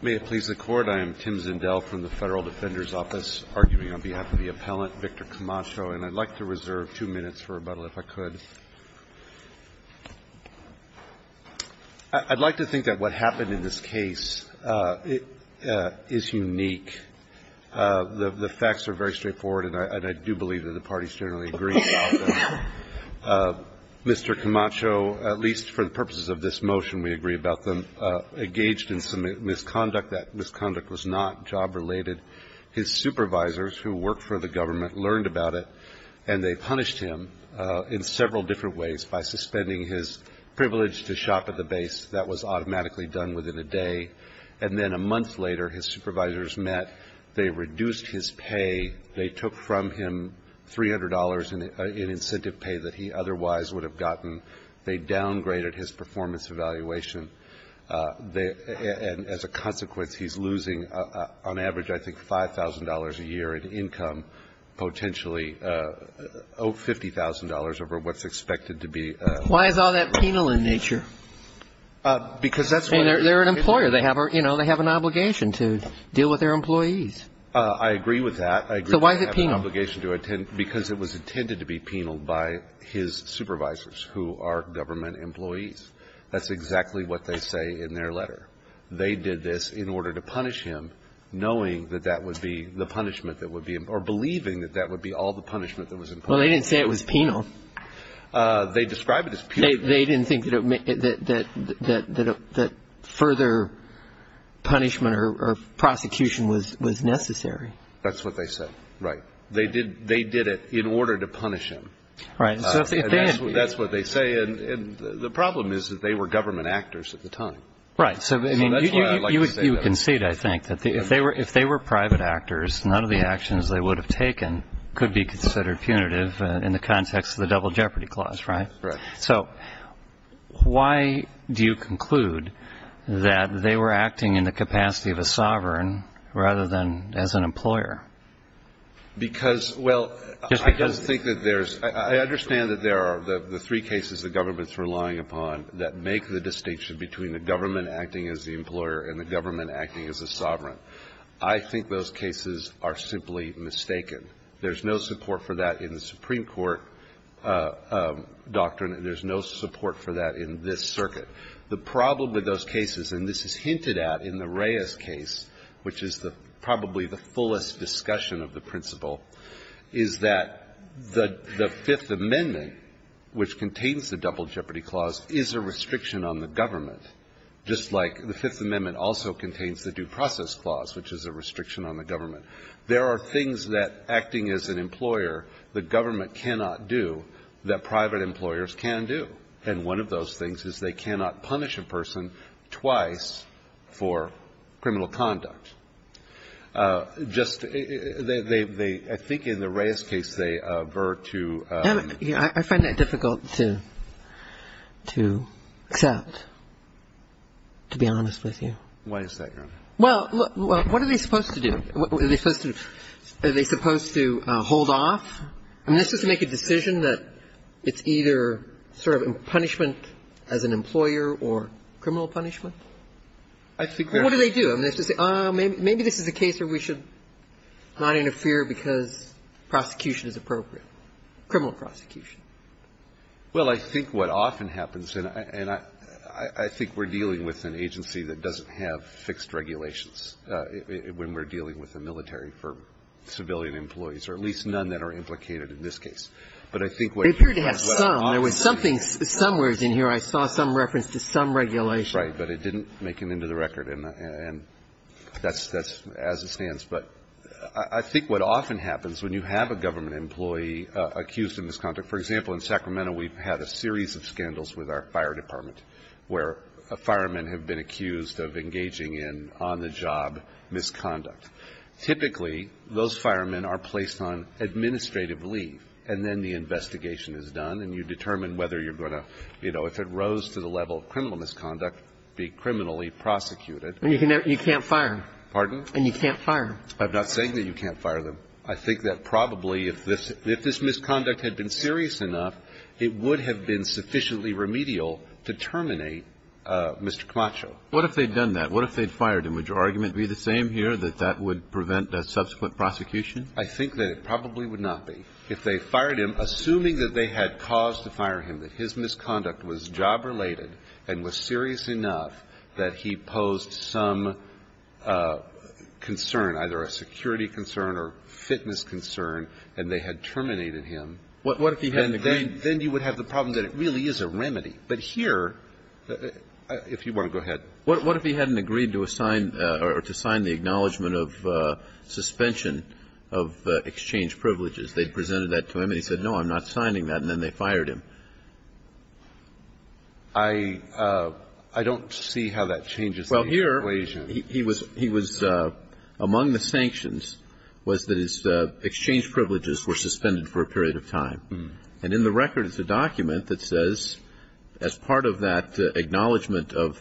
May it please the Court, I am Tim Zindel from the Federal Defender's Office, arguing on behalf of the appellant, Victor Camacho, and I'd like to reserve two minutes for rebuttal if I could. I'd like to think that what happened in this case is unique. The facts are very straightforward, and I do believe that the parties generally agree about them. Mr. Camacho, at least for the purposes of this motion, we agree about them. The fact is that he was engaged in some misconduct. That misconduct was not job-related. His supervisors, who worked for the government, learned about it and they punished him in several different ways by suspending his privilege to shop at the base. That was automatically done within a day. And then a month later, his supervisors met. They reduced his pay. They took from him $300 in incentive pay that he otherwise would have gotten. They downgraded his performance evaluation. And as a consequence, he's losing, on average, I think, $5,000 a year in income, potentially $50,000 over what's expected to be. Why is all that penal in nature? Because that's why. They're an employer. They have an obligation to deal with their employees. I agree with that. So why is it penal? Because it was intended to be penal by his supervisors, who are government employees. That's exactly what they say in their letter. They did this in order to punish him, knowing that that would be the punishment that would be or believing that that would be all the punishment that was imposed. Well, they didn't say it was penal. They described it as penal. They didn't think that further punishment or prosecution was necessary. That's what they said. Right. They did it in order to punish him. Right. And that's what they say. And the problem is that they were government actors at the time. Right. So, I mean, you concede, I think, that if they were private actors, none of the actions they would have taken could be considered punitive in the context of the Double Jeopardy Clause, right? Right. So why do you conclude that they were acting in the capacity of a sovereign rather than as an employer? Because, well, I don't think that there's – I understand that there are the three cases the government's relying upon that make the distinction between the government acting as the employer and the government acting as a sovereign. I think those cases are simply mistaken. There's no support for that in the Supreme Court doctrine. There's no support for that in this circuit. The problem with those cases, and this is hinted at in the Reyes case, which is probably the fullest discussion of the principle, is that the Fifth Amendment, which contains the Double Jeopardy Clause, is a restriction on the government, just like the Fifth Amendment also contains the Due Process Clause, which is a restriction on the government. There are things that, acting as an employer, the government cannot do that private employers can do. And one of those things is they cannot punish a person twice for criminal conduct. Just – they – I think in the Reyes case, they avert to – I find that difficult to accept, to be honest with you. Why is that, Your Honor? Well, what are they supposed to do? Are they supposed to hold off? I mean, this is to make a decision that it's either sort of a punishment as an employer or criminal punishment? I think they're – Well, what do they do? I mean, they just say, oh, maybe this is a case where we should not interfere because prosecution is appropriate, criminal prosecution. Well, I think what often happens, and I think we're dealing with an agency that doesn't have fixed regulations when we're dealing with the military for civilian employees, or at least none that are implicated in this case. But I think what you're saying is what often happens – They appear to have some. There was something, some words in here. I saw some reference to some regulation. Right. But it didn't make an end of the record. And that's – that's as it stands. But I think what often happens when you have a government employee accused in this conduct – for example, in Sacramento, we've had a series of scandals with our fire firemen have been accused of engaging in on-the-job misconduct. Typically, those firemen are placed on administrative leave, and then the investigation is done, and you determine whether you're going to, you know, if it rose to the level of criminal misconduct, be criminally prosecuted. And you can't fire them. Pardon? And you can't fire them. I'm not saying that you can't fire them. I think that probably if this – if this misconduct had been serious enough, it would have been sufficiently remedial to terminate Mr. Camacho. What if they'd done that? What if they'd fired him? Would your argument be the same here, that that would prevent a subsequent prosecution? I think that it probably would not be. If they fired him, assuming that they had cause to fire him, that his misconduct was job-related and was serious enough, that he posed some concern, either a security concern or fitness concern, and they had terminated him. What if he hadn't agreed? Then you would have the problem that it really is a remedy. But here, if you want to go ahead. What if he hadn't agreed to assign or to sign the acknowledgment of suspension of exchange privileges? They presented that to him and he said, no, I'm not signing that, and then they fired him. I don't see how that changes the equation. Well, here, he was – he was – among the sanctions was that his exchange privileges were suspended for a period of time. And in the record is a document that says, as part of that acknowledgement of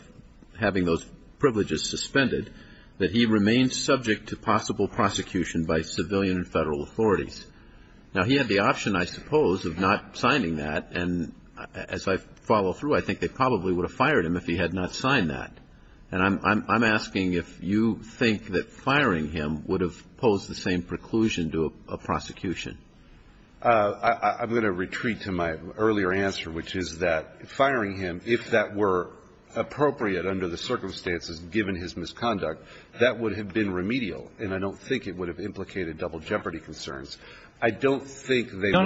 having those privileges suspended, that he remained subject to possible prosecution by civilian and Federal authorities. Now, he had the option, I suppose, of not signing that, and as I follow through, I think they probably would have fired him if he had not signed that. And I'm asking if you think that firing him would have posed the same preclusion to a prosecution. I'm going to retreat to my earlier answer, which is that firing him, if that were appropriate under the circumstances given his misconduct, that would have been remedial. And I don't think it would have implicated double jeopardy concerns. I don't think they would have fired him. I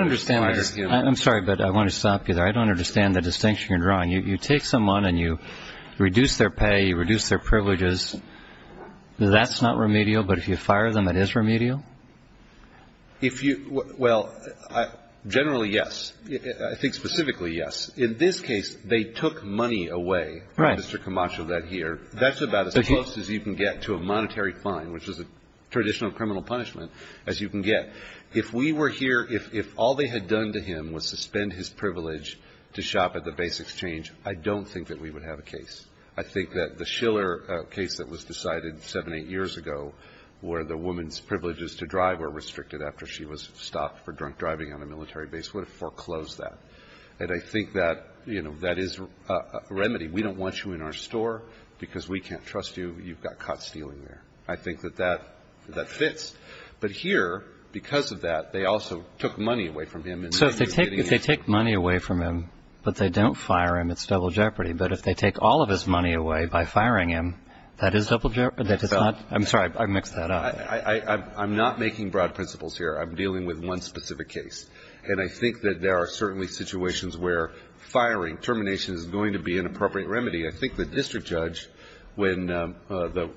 don't understand. I'm sorry, but I want to stop you there. I don't understand the distinction you're drawing. You take someone and you reduce their pay, you reduce their privileges. That's not remedial, but if you fire them, it is remedial? If you – well, generally, yes. I think specifically, yes. In this case, they took money away. Right. Mr. Camacho read here. That's about as close as you can get to a monetary fine, which is a traditional criminal punishment, as you can get. If we were here, if all they had done to him was suspend his privilege to shop at the Base Exchange, I don't think that we would have a case. I think that the Schiller case that was decided seven, eight years ago where the woman's privileges to drive were restricted after she was stopped for drunk driving on a military base would have foreclosed that. And I think that, you know, that is a remedy. We don't want you in our store because we can't trust you. You've got caught stealing there. I think that that fits. But here, because of that, they also took money away from him. So if they take money away from him, but they don't fire him, it's double jeopardy. But if they take all of his money away by firing him, that is double jeopardy? I'm sorry. I mixed that up. I'm not making broad principles here. I'm dealing with one specific case. And I think that there are certainly situations where firing, termination is going to be an appropriate remedy. I think the district judge, when the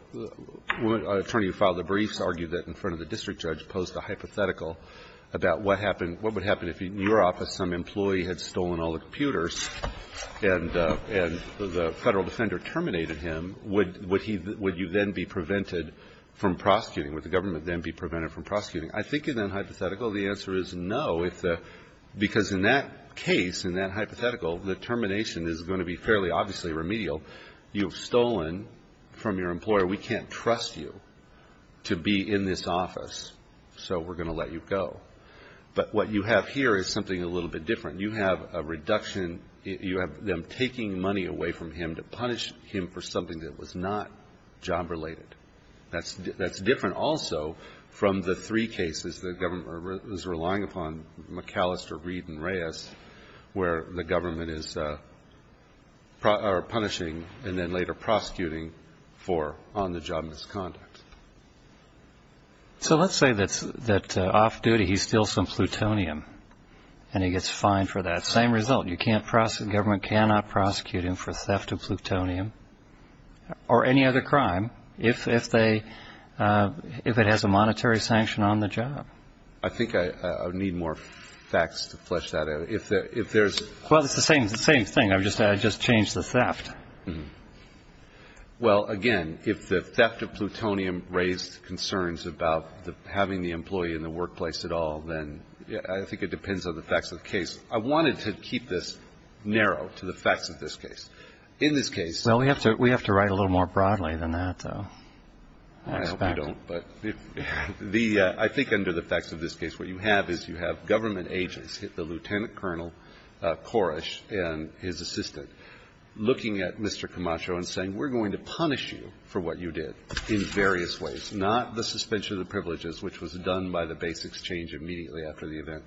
woman attorney who filed the briefs argued that in front of the district judge, posed a hypothetical about what would happen if, in your office, some employee had stolen all the computers and the Federal Defender terminated him, would you then be prevented from prosecuting? Would the government then be prevented from prosecuting? I think in that hypothetical, the answer is no, because in that case, in that hypothetical, the termination is going to be fairly obviously remedial. You've stolen from your employer. We can't trust you to be in this office. So we're going to let you go. But what you have here is something a little bit different. You have a reduction. You have them taking money away from him to punish him for something that was not job-related. That's different also from the three cases the government is relying upon, McAllister, Reed, and Reyes, where the government is punishing and then later prosecuting for on-the-job misconduct. So let's say that off-duty he steals some plutonium and he gets fined for that. Same result. The government cannot prosecute him for theft of plutonium or any other crime if it has a monetary sanction on the job. I think I need more facts to flesh that out. Well, it's the same thing. I just changed the theft. Well, again, if the theft of plutonium raised concerns about having the employee in the workplace at all, then I think it depends on the facts of the case. I wanted to keep this narrow to the facts of this case. In this case we have to write a little more broadly than that, though. I hope we don't. But I think under the facts of this case what you have is you have government agents, the Lieutenant Colonel Koresh and his assistant, looking at Mr. Camacho and saying, we're going to punish you for what you did in various ways, not the suspension of the privileges, which was done by the base exchange immediately after the event,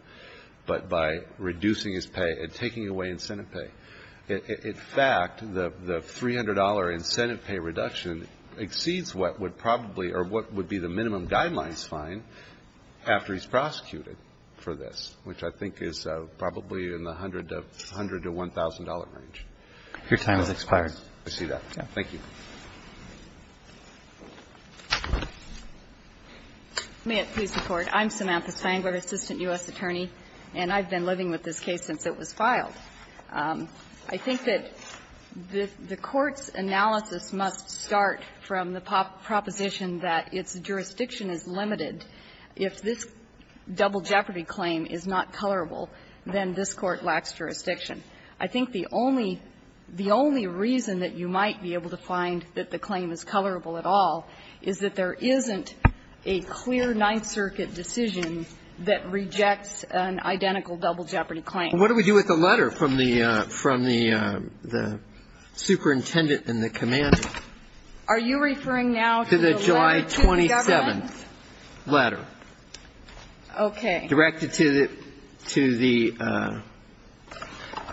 but by reducing his pay and taking away incentive pay. In fact, the $300 incentive pay reduction exceeds what would probably or what would be the minimum guidelines fine after he's prosecuted for this, which I think is probably in the $100 to $1,000 range. Your time has expired. I see that. Thank you. May it please the Court. I'm Samantha Sangler, assistant U.S. attorney, and I've been living with this case since it was filed. I think that the Court's analysis must start from the proposition that its jurisdiction is limited. If this double jeopardy claim is not colorable, then this Court lacks jurisdiction. I think the only reason that you might be able to find that the claim is colorable at all is that there isn't a clear Ninth Circuit decision that rejects an identical double jeopardy claim. What do we do with the letter from the superintendent and the commander? Are you referring now to the letter to the government? To the July 27th letter. Okay. Directed to the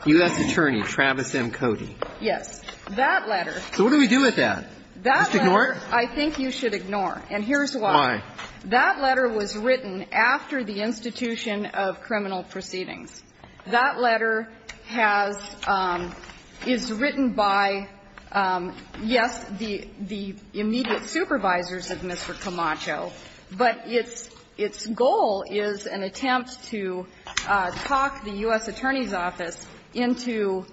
U.S. attorney, Travis M. Cody. Yes. That letter. So what do we do with that? That letter I think you should ignore. And here's why. Why? That letter was written after the institution of criminal proceedings. That letter has – is written by, yes, the immediate supervisors of Mr. Camacho, but its goal is an attempt to talk the U.S. Attorney's Office into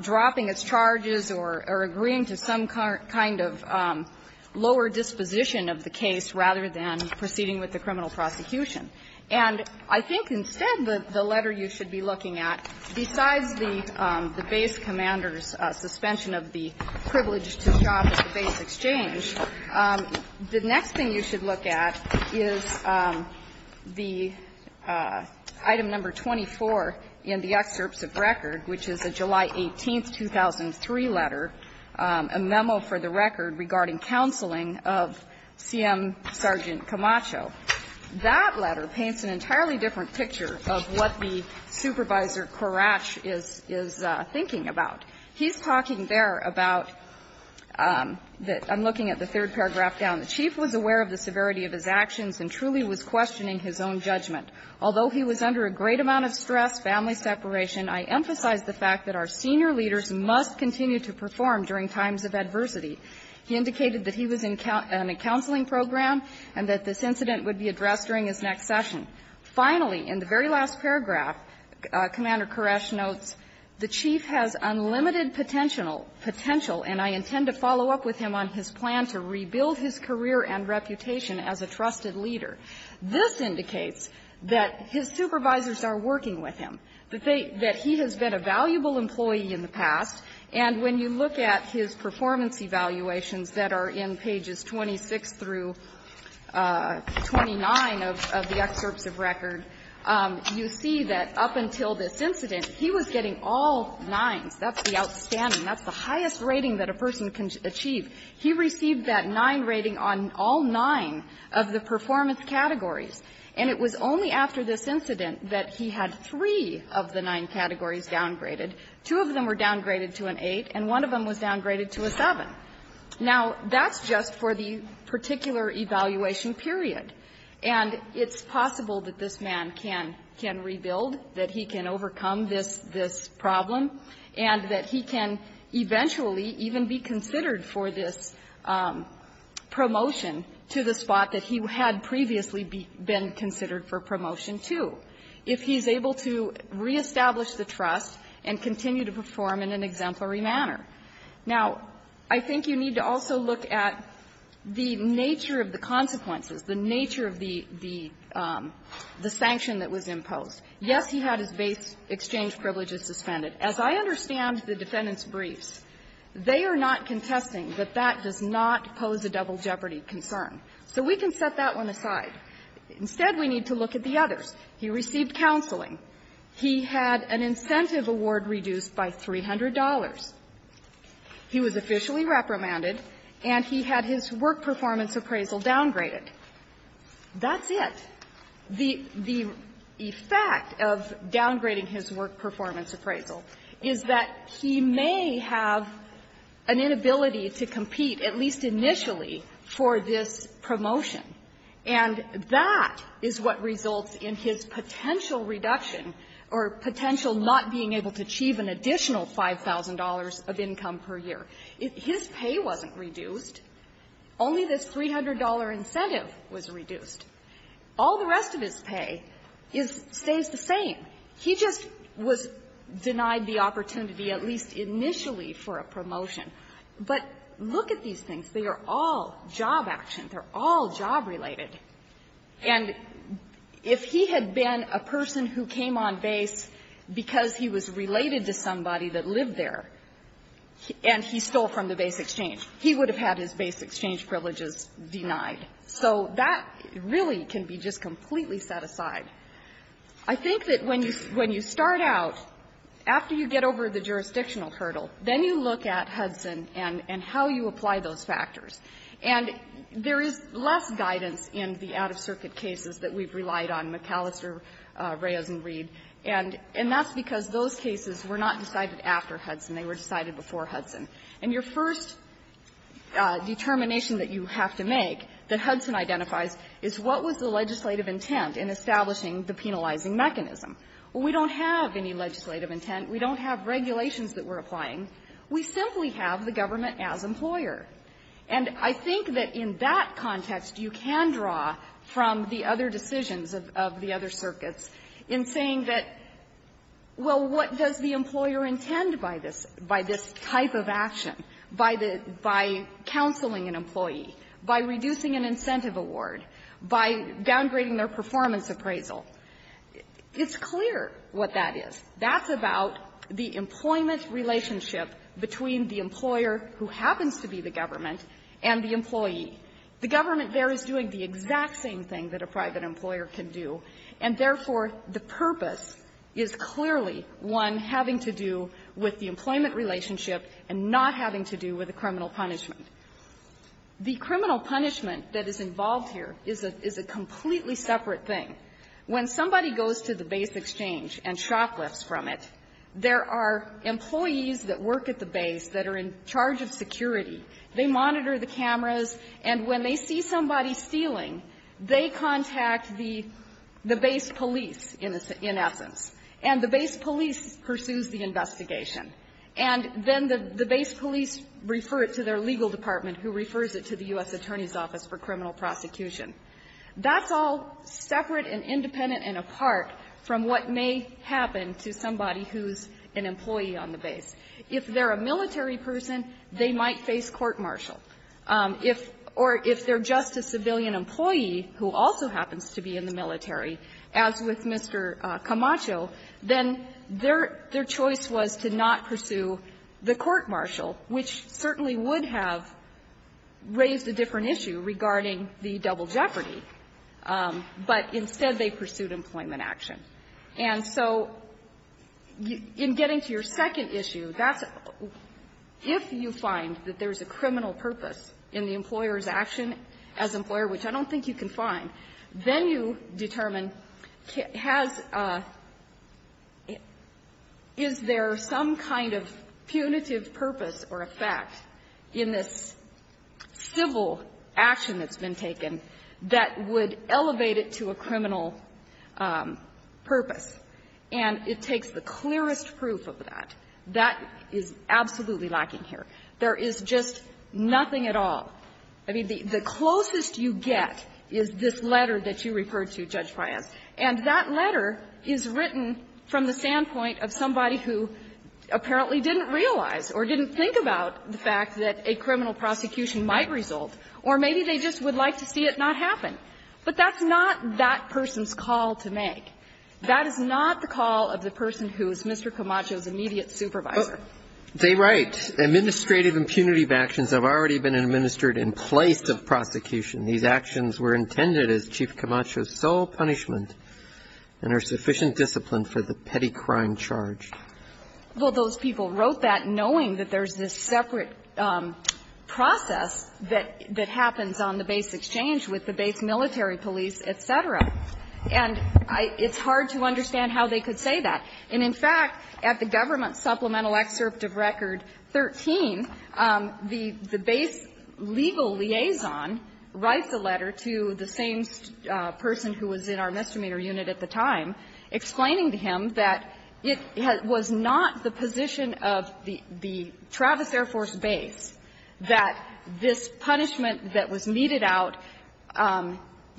dropping its charges or agreeing to some kind of lower disposition of the case rather than proceeding with the criminal prosecution. And I think instead the letter you should be looking at, besides the base commander's suspension of the privilege to shop at the base exchange, the next thing you should look at is the item number 24 in the excerpts of record, which is a July 18th, 2003 letter, a memo for the record regarding counseling of C.M. Sergeant Camacho. That letter paints an entirely different picture of what the supervisor, Korach, is thinking about. He's talking there about – I'm looking at the third paragraph down. The chief was aware of the severity of his actions and truly was questioning his own judgment. Although he was under a great amount of stress, family separation, I emphasize the fact that our senior leaders must continue to perform during times of adversity. He indicated that he was in a counseling program and that this incident would be addressed during his next session. Finally, in the very last paragraph, Commander Korach notes, The chief has unlimited potential, and I intend to follow up with him on his plan to rebuild his career and reputation as a trusted leader. This indicates that his supervisors are working with him, that he has been a valuable employee in the past, and when you look at his performance evaluations that are in pages 26 through 29 of the excerpts of record, you see that up until this incident, he was getting all nines. That's the outstanding, that's the highest rating that a person can achieve. He received that nine rating on all nine of the performance categories, and it was only after this incident that he had three of the nine categories downgraded. Two of them were downgraded to an eight, and one of them was downgraded to a seven. Now, that's just for the particular evaluation period. And it's possible that this man can rebuild, that he can overcome this problem, and that he can eventually even be considered for this promotion to the spot that he had previously been considered for promotion to. If he's able to reestablish the trust and continue to perform in an exemplary manner. Now, I think you need to also look at the nature of the consequences, the nature of the the sanction that was imposed. Yes, he had his base exchange privileges suspended. As I understand the defendant's briefs, they are not contesting that that does not pose a double jeopardy concern. So we can set that one aside. Instead, we need to look at the others. He received counseling. He had an incentive award reduced by $300. He was officially reprimanded, and he had his work performance appraisal downgraded. That's it. The effect of downgrading his work performance appraisal is that he may have an inability to compete, at least initially, for this promotion. And that is what results in his potential reduction or potential not being able to achieve an additional $5,000 of income per year. His pay wasn't reduced. Only this $300 incentive was reduced. All the rest of his pay is stays the same. He just was denied the opportunity, at least initially, for a promotion. But look at these things. They are all job action. They are all job-related. And if he had been a person who came on base because he was related to somebody that lived there, and he stole from the base exchange, he would have had his base exchange privileges denied. So that really can be just completely set aside. I think that when you start out, after you get over the jurisdictional hurdle, then you look at Hudson and how you apply those factors. And there is less guidance in the out-of-circuit cases that we've relied on, McAllister, Reyes, and Reed. And that's because those cases were not decided after Hudson. They were decided before Hudson. And your first determination that you have to make that Hudson identifies is what was the legislative intent in establishing the penalizing mechanism. Well, we don't have any legislative intent. We don't have regulations that we're applying. We simply have the government as employer. And I think that in that context, you can draw from the other decisions of the other circuits in saying that, well, what does the employer intend by this, by this type of action, by the by counseling an employee, by reducing an incentive award, by downgrading their performance appraisal? It's clear what that is. That's about the employment relationship between the employer who happens to be the government and the employee. The government there is doing the exact same thing that a private employer can do. And therefore, the purpose is clearly one having to do with the employment relationship and not having to do with the criminal punishment. The criminal punishment that is involved here is a completely separate thing. When somebody goes to the base exchange and shoplifts from it, there are employees that work at the base that are in charge of security. They monitor the cameras, and when they see somebody stealing, they contact the base police in essence. And the base police pursues the investigation. And then the base police refer it to their legal department, who refers it to the U.S. Attorney's Office for criminal prosecution. That's all separate and independent and apart from what may happen to somebody who's an employee on the base. If they're a military person, they might face court-martial. If or if they're just a civilian employee who also happens to be in the military, as with Mr. Camacho, then their choice was to not pursue the court-martial, which certainly would have raised a different issue regarding the double jeopardy. But instead, they pursued employment action. And so in getting to your second issue, that's if you find that there's a criminal purpose in the employer's action as employer, which I don't think you can find, then you determine has there some kind of punitive purpose in the employer's action that's been taken that would elevate it to a criminal purpose. And it takes the clearest proof of that. That is absolutely lacking here. There is just nothing at all. I mean, the closest you get is this letter that you referred to, Judge Fias, and that letter is written from the standpoint of somebody who apparently didn't realize or didn't think about the fact that a criminal prosecution might result, or maybe they just would like to see it not happen. But that's not that person's call to make. That is not the call of the person who is Mr. Camacho's immediate supervisor. They write, Administrative impunity of actions have already been administered in place of prosecution. These actions were intended as Chief Camacho's sole punishment and are sufficient discipline for the petty crime charge. Well, those people wrote that knowing that there's this separate process that happens on the base exchange with the base military police, et cetera. And it's hard to understand how they could say that. And in fact, at the government supplemental excerpt of Record 13, the base legal liaison writes a letter to the same person who was in our misdemeanor unit at the time, explaining to him that it was not the position of the Travis Air Force Base that this punishment that was meted out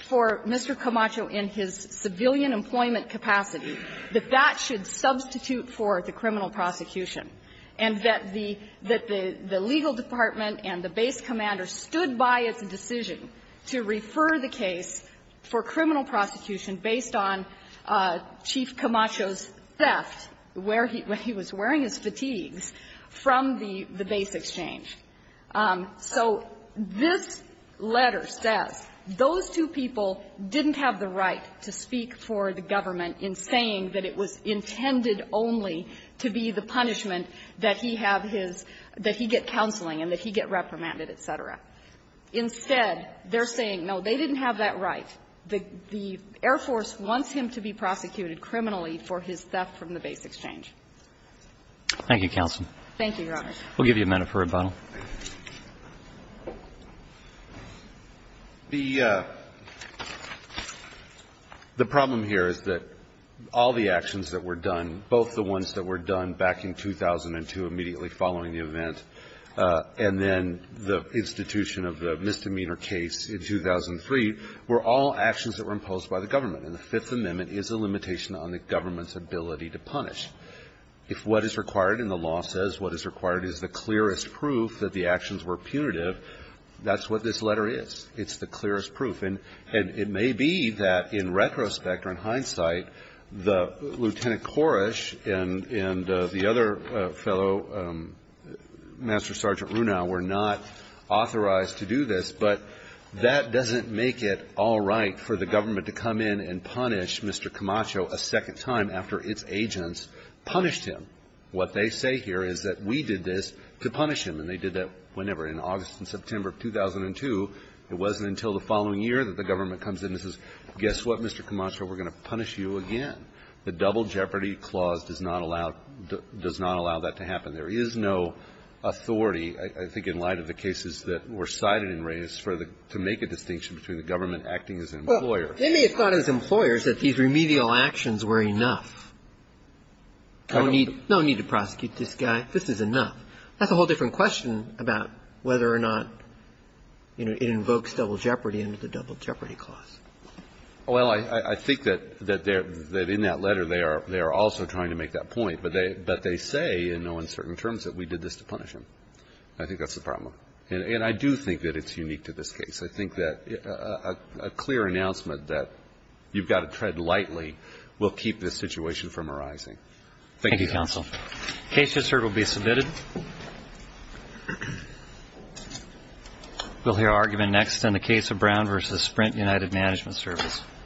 for Mr. Camacho in his civilian employment capacity, that that should substitute for the criminal prosecution, and that the legal department and the base commander stood by its decision to refer the case for criminal prosecution based on Chief Camacho's theft, where he was wearing his fatigues, from the base exchange. So this letter says those two people didn't have the right to speak for the government in saying that it was intended only to be the punishment that he have his – that he get counseling and that he get reprimanded, et cetera. Instead, they're saying, no, they didn't have that right. The Air Force wants him to be prosecuted criminally for his theft from the base exchange. Thank you, counsel. Thank you, Your Honor. We'll give you a minute for rebuttal. The problem here is that all the actions that were done, both the ones that were done back in 2002 immediately following the event, and then the institution of the misdemeanor case in 2003, were all actions that were imposed by the government. And the Fifth Amendment is a limitation on the government's ability to punish. If what is required in the law says what is required is the clearest proof that the actions were punitive, that's what this letter is. It's the clearest proof. And it may be that in retrospect or in hindsight, that Lieutenant Koresh and the other fellow, Master Sergeant Runow, were not authorized to do this, but that doesn't make it all right for the government to come in and punish Mr. Camacho a second time after its agents punished him. What they say here is that we did this to punish him, and they did that whenever. In August and September of 2002, it wasn't until the following year that the government comes in and says, guess what, Mr. Camacho, we're going to punish you again. The Double Jeopardy Clause does not allow that to happen. There is no authority, I think, in light of the cases that were cited and raised, to make a distinction between the government acting as an employer. Well, they may have thought as employers that these remedial actions were enough. No need to prosecute this guy. This is enough. That's a whole different question about whether or not, you know, it invokes Double Jeopardy under the Double Jeopardy Clause. Well, I think that in that letter they are also trying to make that point, but they say in no uncertain terms that we did this to punish him. I think that's the problem. And I do think that it's unique to this case. I think that a clear announcement that you've got to tread lightly will keep this situation from arising. Thank you, counsel. The case, Mr. Hirt, will be submitted. We'll hear argument next on the case of Brown v. Sprint United Management Service.